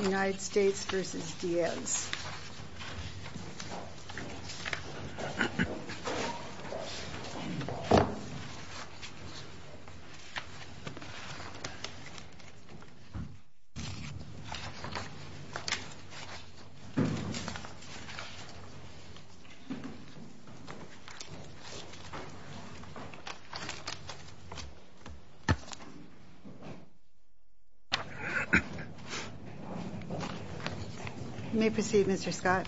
United States v. Diaz You may proceed, Mr. Scott.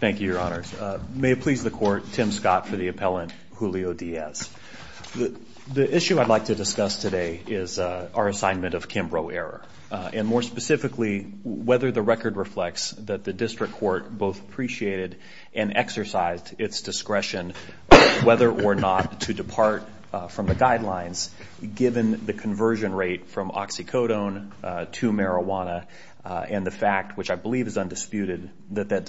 Thank you, Your Honors. May it please the Court, Tim Scott for the appellant, Julio Diaz. The issue I'd like to discuss today is our assignment of Kimbrough error, and more specifically, whether the record reflects that the district court both appreciated and exercised its discretion whether or not to depart from the guidelines given the conversion rate from oxycodone to marijuana, and the fact, which I believe is undisputed, that that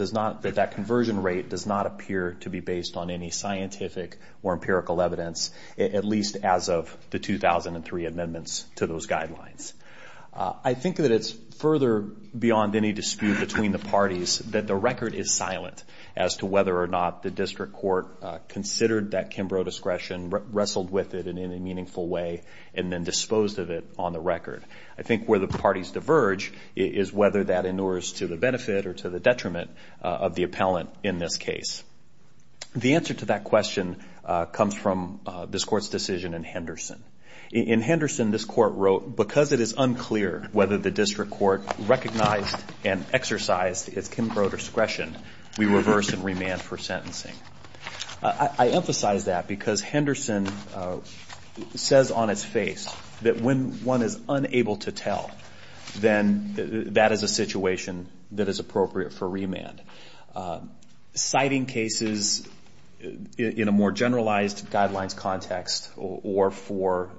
conversion rate does not appear to be based on any scientific or empirical evidence, at least as of the 2003 amendments to those guidelines. I think that it's further beyond any dispute between the parties that the record is silent as to whether or not the district court considered that Kimbrough discretion, wrestled with it in any meaningful way, and then disposed of it on the record. I think where the parties diverge is whether that inures to the benefit or to the detriment of the appellant in this case. The answer to that question comes from this Court's decision in Henderson. In Henderson, this Court wrote, because it is unclear whether the district court recognized and exercised its Kimbrough discretion, we reverse and remand for sentencing. I emphasize that because Henderson says on its face that when one is unable to tell, then that is a situation that is appropriate for remand. Citing cases in a more generalized guidelines context or for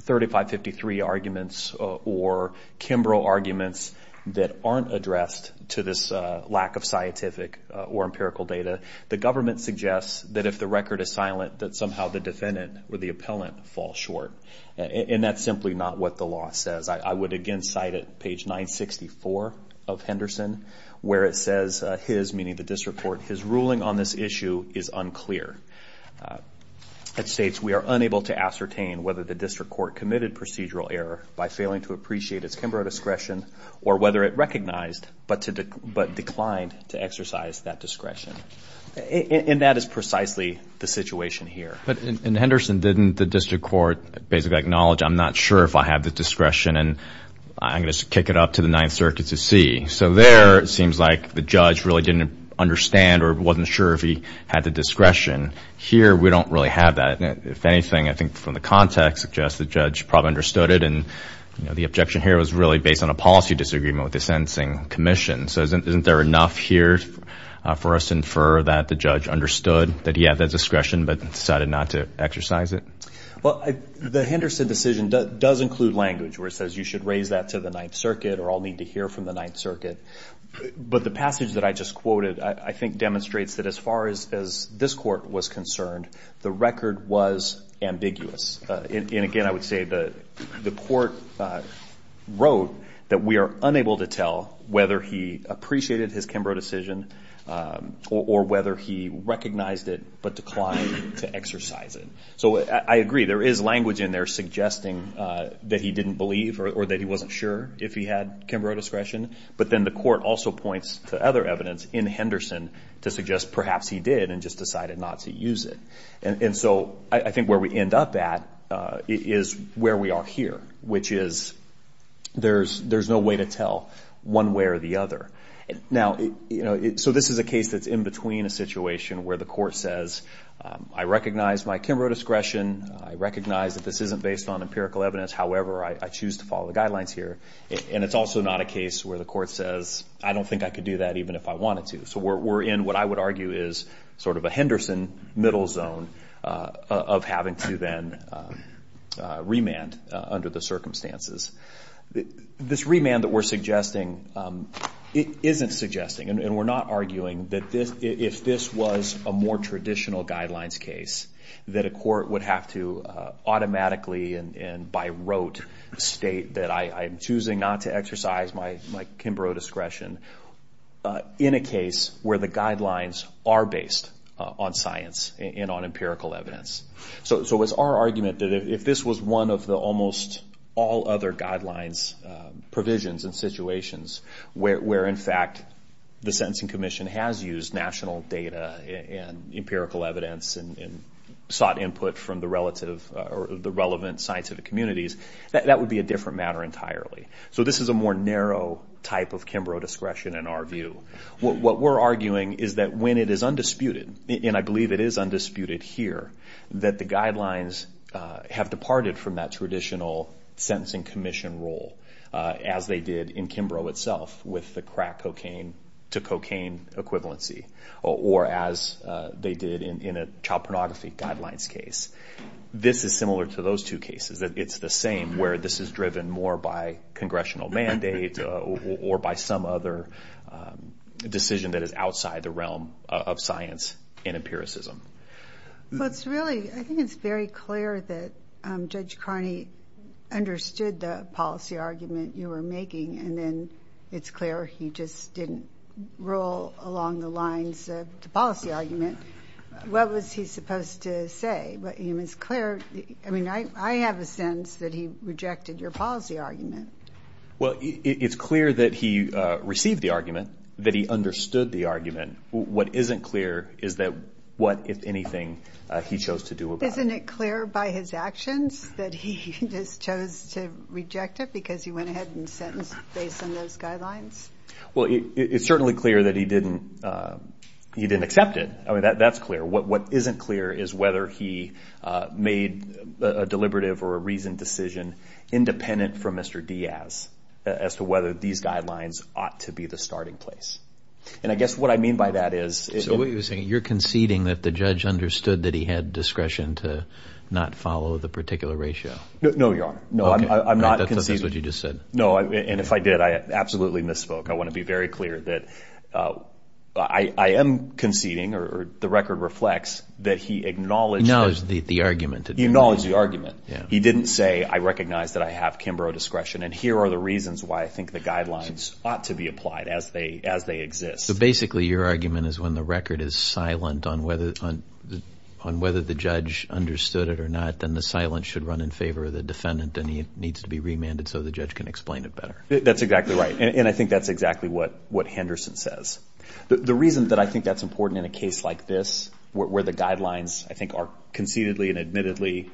3553 arguments or Kimbrough arguments that aren't addressed to this lack of scientific or empirical data, the government suggests that if the record is silent, that somehow the defendant or the appellant fall short. And that's simply not what the law says. I would again cite it, page 964 of Henderson, where it says his, meaning the district court, his ruling on this issue is unclear. It states we are unable to ascertain whether the district court committed procedural error by failing to appreciate its Kimbrough discretion or whether it recognized but declined to exercise that discretion. And that is precisely the situation here. But in Henderson, didn't the district court basically acknowledge, I'm not sure if I have the discretion and I'm going to kick it up to the Ninth Circuit to see? So there, it seems like the judge really didn't understand or wasn't sure if he had the discretion. Here, we don't really have that. If anything, I think from the context, suggests the judge probably understood it. And the objection here was really based on a policy disagreement with the sentencing commission. So isn't there enough here for us to infer that the judge understood that he had the discretion but decided not to exercise it? Well, the Henderson decision does include language where it says you should raise that to the Ninth Circuit or I'll need to hear from the Ninth Circuit. But the passage that I just quoted I think demonstrates that as far as this court was concerned, the record was ambiguous. And again, I would say the court wrote that we are unable to tell whether he appreciated his Kimbrough decision or whether he recognized it but declined to exercise it. So I agree, there is language in there suggesting that he didn't believe or that he wasn't sure if he had Kimbrough discretion. But then the court also points to other evidence in Henderson to suggest perhaps he did and just decided not to use it. And so I think where we end up at is where we are here, which is there's no way to tell one way or the other. Now, so this is a case that's in between a situation where the court says, I recognize my Kimbrough discretion. I recognize that this isn't based on empirical evidence. However, I choose to follow the guidelines here. And it's also not a case where the court says, I don't think I could do that even if I wanted to. So we're in what I would argue is sort of a Henderson middle zone of having to then remand under the circumstances. This remand that we're suggesting isn't suggesting, and we're not arguing that if this was a more traditional guidelines case, that a court would have to automatically and by rote state that I am choosing not to exercise my Kimbrough discretion. In a case where the guidelines are based on science and on empirical evidence. So it's our argument that if this was one of the almost all other guidelines, provisions and situations where, in fact, the Sentencing Commission has used national data and empirical evidence and sought input from the relative or the relevant scientific communities, that would be a different matter entirely. So this is a more narrow type of Kimbrough discretion in our view. What we're arguing is that when it is undisputed, and I believe it is undisputed here, that the guidelines have departed from that traditional Sentencing Commission role as they did in Kimbrough itself with the crack cocaine to cocaine equivalency or as they did in a child pornography guidelines case. This is similar to those two cases. It's the same where this is driven more by congressional mandate or by some other decision that is outside the realm of science and empiricism. Well, it's really, I think it's very clear that Judge Carney understood the policy argument you were making. And then it's clear he just didn't roll along the lines of the policy argument. What was he supposed to say? I mean, I have a sense that he rejected your policy argument. Well, it's clear that he received the argument, that he understood the argument. What isn't clear is what, if anything, he chose to do about it. Isn't it clear by his actions that he just chose to reject it because he went ahead and sentenced based on those guidelines? Well, it's certainly clear that he didn't accept it. I mean, that's clear. What isn't clear is whether he made a deliberative or a reasoned decision independent from Mr. Diaz as to whether these guidelines ought to be the starting place. And I guess what I mean by that is— So what you're saying, you're conceding that the judge understood that he had discretion to not follow the particular ratio. No, Your Honor. No, I'm not conceding. That's what you just said. No, and if I did, I absolutely misspoke. I want to be very clear that I am conceding, or the record reflects, that he acknowledged— Acknowledged the argument. He acknowledged the argument. He didn't say, I recognize that I have Kimbrough discretion, and here are the reasons why I think the guidelines ought to be applied as they exist. So basically your argument is when the record is silent on whether the judge understood it or not, then the silence should run in favor of the defendant, and he needs to be remanded so the judge can explain it better. That's exactly right, and I think that's exactly what Henderson says. The reason that I think that's important in a case like this, where the guidelines I think are concededly and admittedly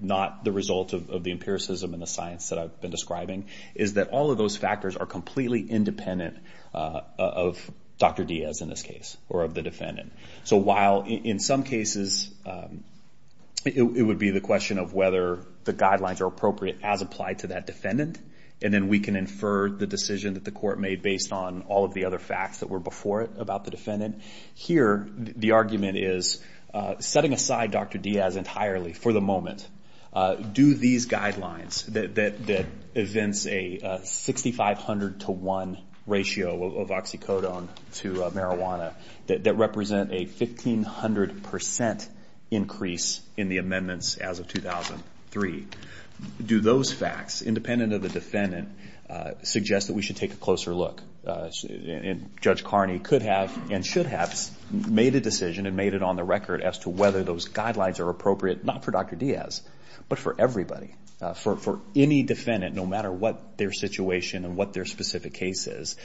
not the result of the empiricism and the science that I've been describing, is that all of those factors are completely independent of Dr. Diaz in this case, or of the defendant. So while in some cases it would be the question of whether the guidelines are appropriate as applied to that defendant, and then we can infer the decision that the court made based on all of the other facts that were before it about the defendant, here the argument is, setting aside Dr. Diaz entirely for the moment, do these guidelines that evince a 6,500 to 1 ratio of oxycodone to marijuana, that represent a 1,500 percent increase in the amendments as of 2003, do those facts, independent of the defendant, suggest that we should take a closer look? Judge Carney could have and should have made a decision and made it on the record as to whether those guidelines are appropriate, not for Dr. Diaz, but for everybody. For any defendant, no matter what their situation and what their specific case is,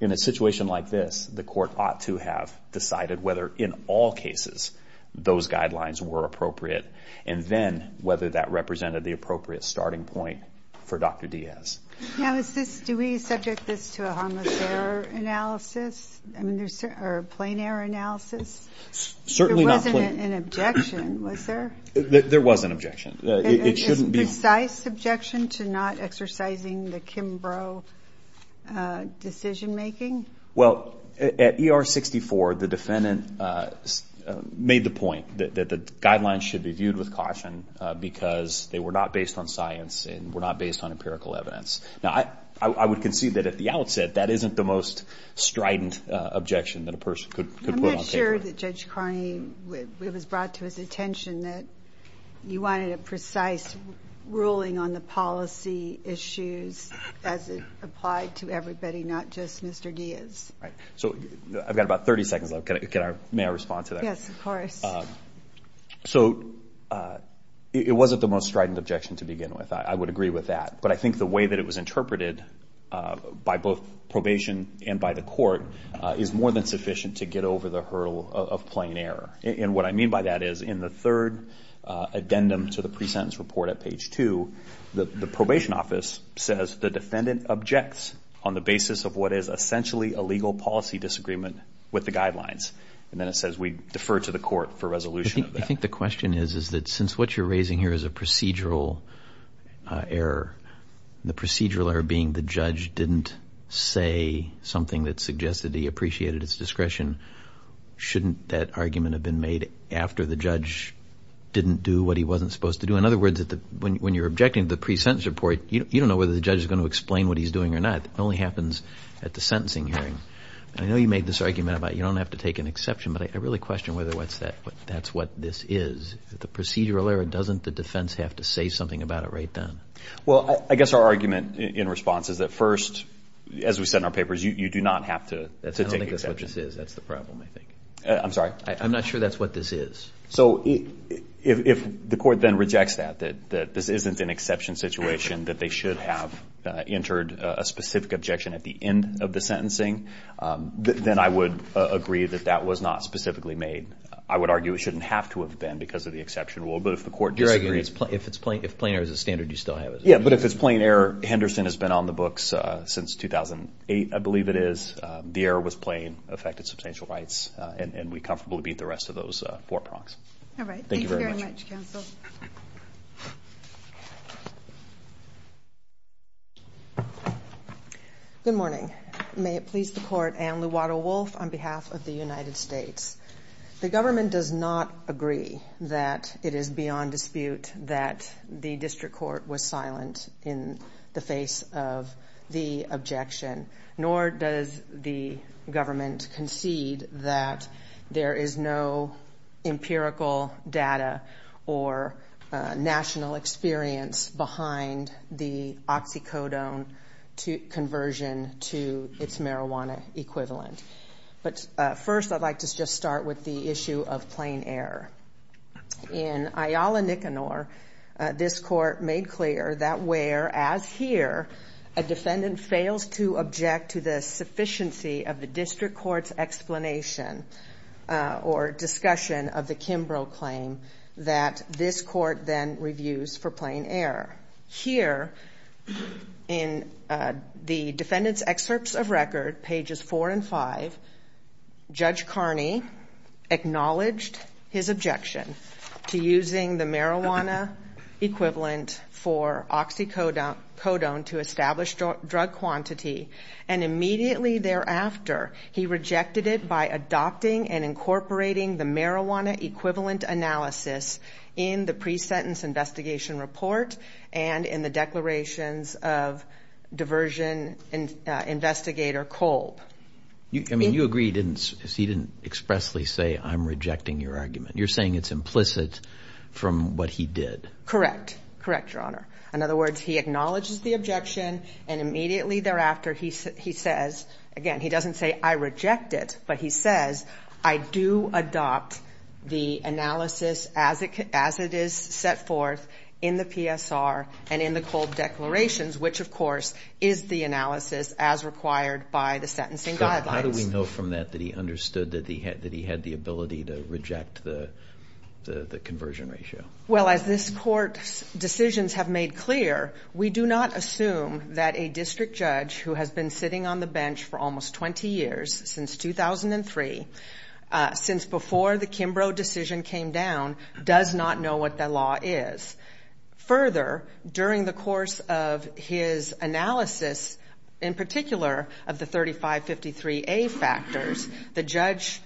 in a situation like this, the court ought to have decided whether in all cases those guidelines were appropriate, and then whether that represented the appropriate starting point for Dr. Diaz. Now is this, do we subject this to a harmless error analysis, or a plain error analysis? Certainly not plain. There wasn't an objection, was there? There was an objection. It shouldn't be. A precise objection to not exercising the Kimbrough decision making? Well, at ER 64, the defendant made the point that the guidelines should be viewed with caution, because they were not based on science and were not based on empirical evidence. Now, I would concede that at the outset, that isn't the most strident objection that a person could put on paper. I'm not sure that Judge Carney, it was brought to his attention that you wanted a precise ruling on the policy issues as it applied to everybody, not just Mr. Diaz. Right. So I've got about 30 seconds left. May I respond to that? Yes, of course. So it wasn't the most strident objection to begin with. I would agree with that. But I think the way that it was interpreted by both probation and by the court is more than sufficient to get over the hurdle of plain error. And what I mean by that is in the third addendum to the pre-sentence report at page 2, the probation office says the defendant objects on the basis of what is essentially a legal policy disagreement with the guidelines. And then it says we defer to the court for resolution of that. I think the question is, is that since what you're raising here is a procedural error, the procedural error being the judge didn't say something that suggested he appreciated his discretion, shouldn't that argument have been made after the judge didn't do what he wasn't supposed to do? In other words, when you're objecting to the pre-sentence report, you don't know whether the judge is going to explain what he's doing or not. It only happens at the sentencing hearing. And I know you made this argument about you don't have to take an exception, but I really question whether that's what this is. The procedural error, doesn't the defense have to say something about it right then? Well, I guess our argument in response is that first, as we said in our papers, you do not have to take an exception. I don't think that's what this is. That's the problem, I think. I'm sorry? I'm not sure that's what this is. So if the court then rejects that, that this isn't an exception situation, that they should have entered a specific objection at the end of the sentencing, then I would agree that that was not specifically made. I would argue it shouldn't have to have been because of the exception rule. But if the court disagrees. You're arguing if it's plain error as a standard, you still have it as a standard. Yeah, but if it's plain error, Henderson has been on the books since 2008, I believe it is. The error was plain, affected substantial rights, and we comfortably beat the rest of those four prongs. All right. Thank you very much. Thank you very much, counsel. Good morning. May it please the Court. Anne Luwato-Wolf on behalf of the United States. The government does not agree that it is beyond dispute that the district court was silent in the face of the objection, nor does the government concede that there is no empirical data or national experience behind the oxycodone conversion to its marijuana equivalent. But first I'd like to just start with the issue of plain error. In Ayala-Nicanor, this court made clear that where, as here, a defendant fails to object to the sufficiency of the district court's explanation or discussion of the Kimbrough claim, that this court then reviews for plain error. Here in the defendant's excerpts of record, pages four and five, Judge Carney acknowledged his objection to using the marijuana equivalent for oxycodone to establish drug quantity, and immediately thereafter, he rejected it by adopting and incorporating the marijuana equivalent analysis in the pre-sentence investigation report and in the declarations of diversion investigator Kolb. I mean, you agree he didn't expressly say, I'm rejecting your argument. You're saying it's implicit from what he did. Correct. Correct, Your Honor. In other words, he acknowledges the objection, and immediately thereafter, he says, again, he doesn't say, I reject it, but he says, I do adopt the analysis as it is set forth in the PSR and in the Kolb declarations, which, of course, is the analysis as required by the sentencing guidelines. How do we know from that that he understood that he had the ability to reject the conversion ratio? Well, as this court's decisions have made clear, we do not assume that a district judge who has been sitting on the bench for almost 20 years, since 2003, since before the Kimbrough decision came down, does not know what the law is. Further, during the course of his analysis, in particular, of the 3553A factors, the judge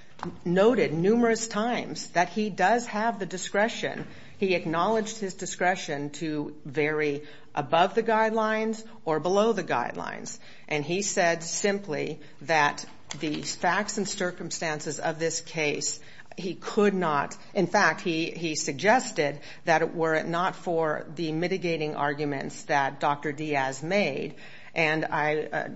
noted numerous times that he does have the discretion. He acknowledged his discretion to vary above the guidelines or below the guidelines, and he said simply that the facts and circumstances of this case, he could not. In fact, he suggested that were it not for the mitigating arguments that Dr. Diaz made, and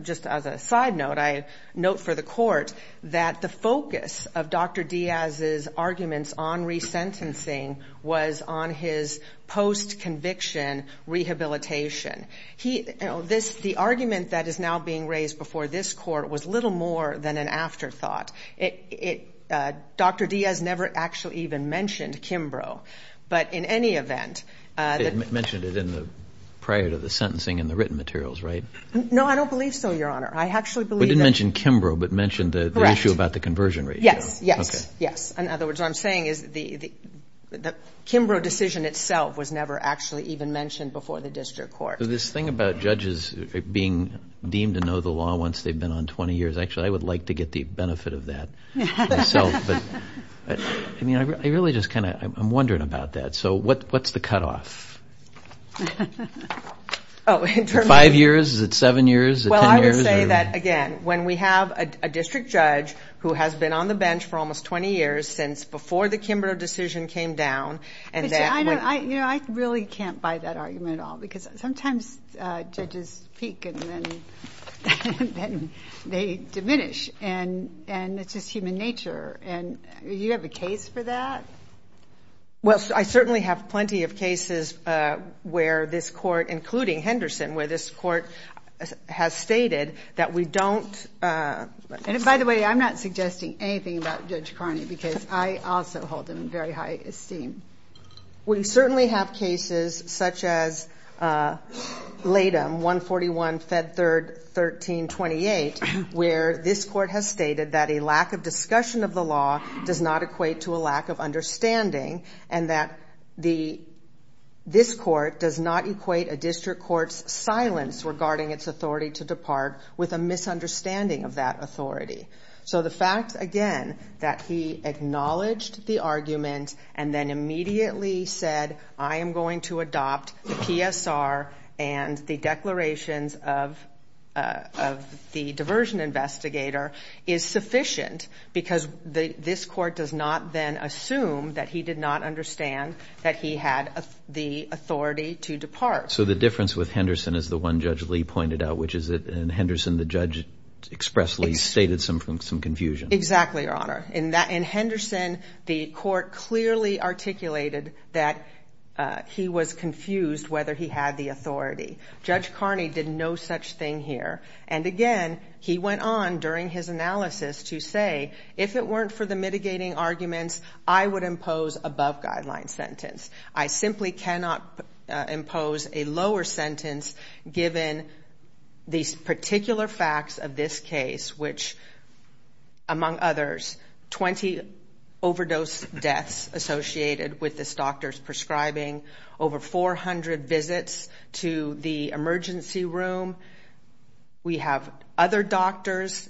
just as a side note, I note for the court that the focus of Dr. Diaz's arguments on resentencing was on his post-conviction rehabilitation. The argument that is now being raised before this court was little more than an afterthought. Dr. Diaz never actually even mentioned Kimbrough, but in any event. He mentioned it prior to the sentencing in the written materials, right? No, I don't believe so, Your Honor. I actually believe that. He didn't mention Kimbrough, but mentioned the issue about the conversion ratio. Yes, yes, yes. In other words, what I'm saying is that the Kimbrough decision itself was never actually even mentioned before the district court. So this thing about judges being deemed to know the law once they've been on 20 years, actually I would like to get the benefit of that myself. But, I mean, I really just kind of am wondering about that. So what's the cutoff? Five years? Is it seven years? Is it ten years? I would say that, again, when we have a district judge who has been on the bench for almost 20 years since before the Kimbrough decision came down. You know, I really can't buy that argument at all. Because sometimes judges peak and then they diminish. And it's just human nature. Do you have a case for that? Well, I certainly have plenty of cases where this court, including Henderson, where this court has stated that we don't. And, by the way, I'm not suggesting anything about Judge Carney because I also hold him in very high esteem. We certainly have cases such as LATAM, 141, Fed 3rd, 1328, where this court has stated that a lack of discussion of the law does not equate to a lack of understanding and that this court does not equate a district court's silence regarding its authority to depart with a misunderstanding of that authority. So the fact, again, that he acknowledged the argument and then immediately said, I am going to adopt the PSR and the declarations of the diversion investigator is sufficient because this court does not then assume that he did not understand that he had the authority to depart. So the difference with Henderson is the one Judge Lee pointed out, which is that in Henderson the judge expressly stated some confusion. Exactly, Your Honor. In Henderson, the court clearly articulated that he was confused whether he had the authority. Judge Carney did no such thing here. And again, he went on during his analysis to say, if it weren't for the mitigating arguments, I would impose above-guideline sentence. I simply cannot impose a lower sentence given these particular facts of this case, which, among others, 20 overdose deaths associated with this doctor's prescribing, over 400 visits to the emergency room. We have other doctors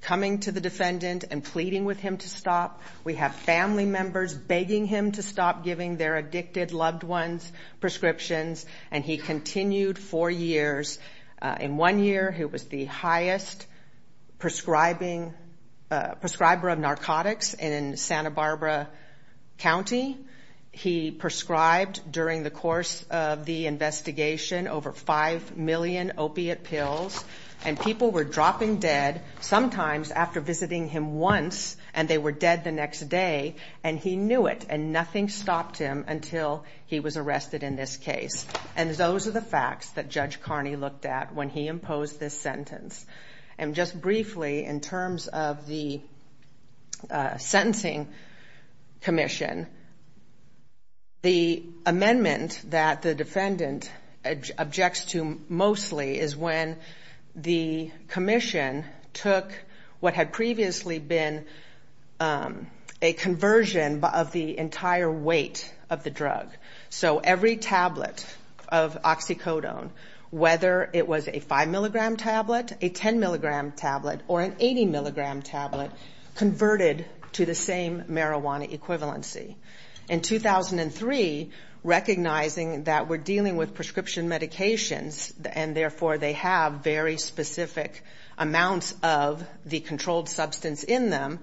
coming to the defendant and pleading with him to stop. We have family members begging him to stop giving their addicted loved ones prescriptions. And he continued for years. In one year, he was the highest prescriber of narcotics in Santa Barbara County. He prescribed, during the course of the investigation, over 5 million opiate pills. And people were dropping dead, sometimes after visiting him once, and they were dead the next day. And he knew it, and nothing stopped him until he was arrested in this case. And those are the facts that Judge Carney looked at when he imposed this sentence. And just briefly, in terms of the sentencing commission, the amendment that the defendant objects to mostly is when the commission took what had previously been a conversion of the entire weight of the drug. So every tablet of oxycodone, whether it was a 5-milligram tablet, a 10-milligram tablet, or an 80-milligram tablet, converted to the same marijuana equivalency. In 2003, recognizing that we're dealing with prescription medications, and therefore they have very specific amounts of the controlled substance in them,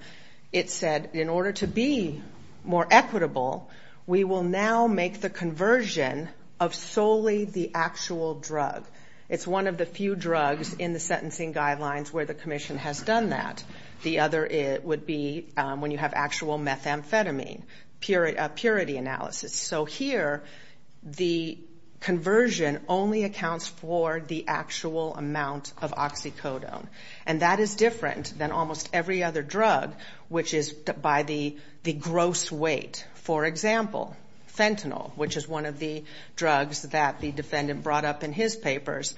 it said, in order to be more equitable, we will now make the conversion of solely the actual drug. It's one of the few drugs in the sentencing guidelines where the commission has done that. The other would be when you have actual methamphetamine purity analysis. So here, the conversion only accounts for the actual amount of oxycodone. And that is different than almost every other drug, which is by the gross weight. For example, fentanyl, which is one of the drugs that the defendant brought up in his papers,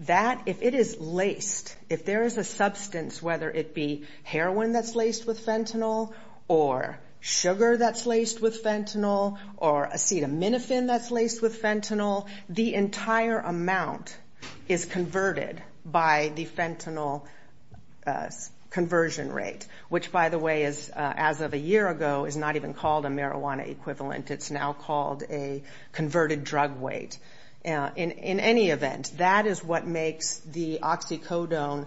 that, if it is laced, if there is a substance, whether it be heroin that's laced with fentanyl, or sugar that's laced with fentanyl, or acetaminophen that's laced with fentanyl, the entire amount is converted by the fentanyl conversion rate, which, by the way, as of a year ago is not even called a marijuana equivalent. It's now called a converted drug weight. In any event, that is what makes the oxycodone,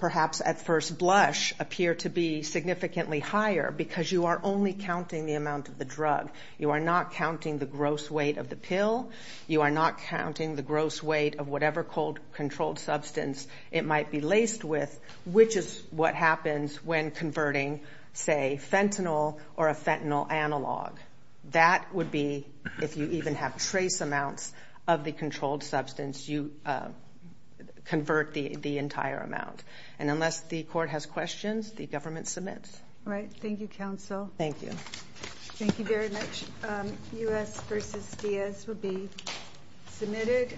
perhaps at first blush, appear to be significantly higher, because you are only counting the amount of the drug. You are not counting the gross weight of the pill. You are not counting the gross weight of whatever controlled substance it might be laced with, which is what happens when converting, say, fentanyl or a fentanyl analog. That would be, if you even have trace amounts of the controlled substance, you convert the entire amount. And unless the court has questions, the government submits. All right. Thank you, counsel. Thank you. Thank you very much. U.S. v. Diaz will be submitted.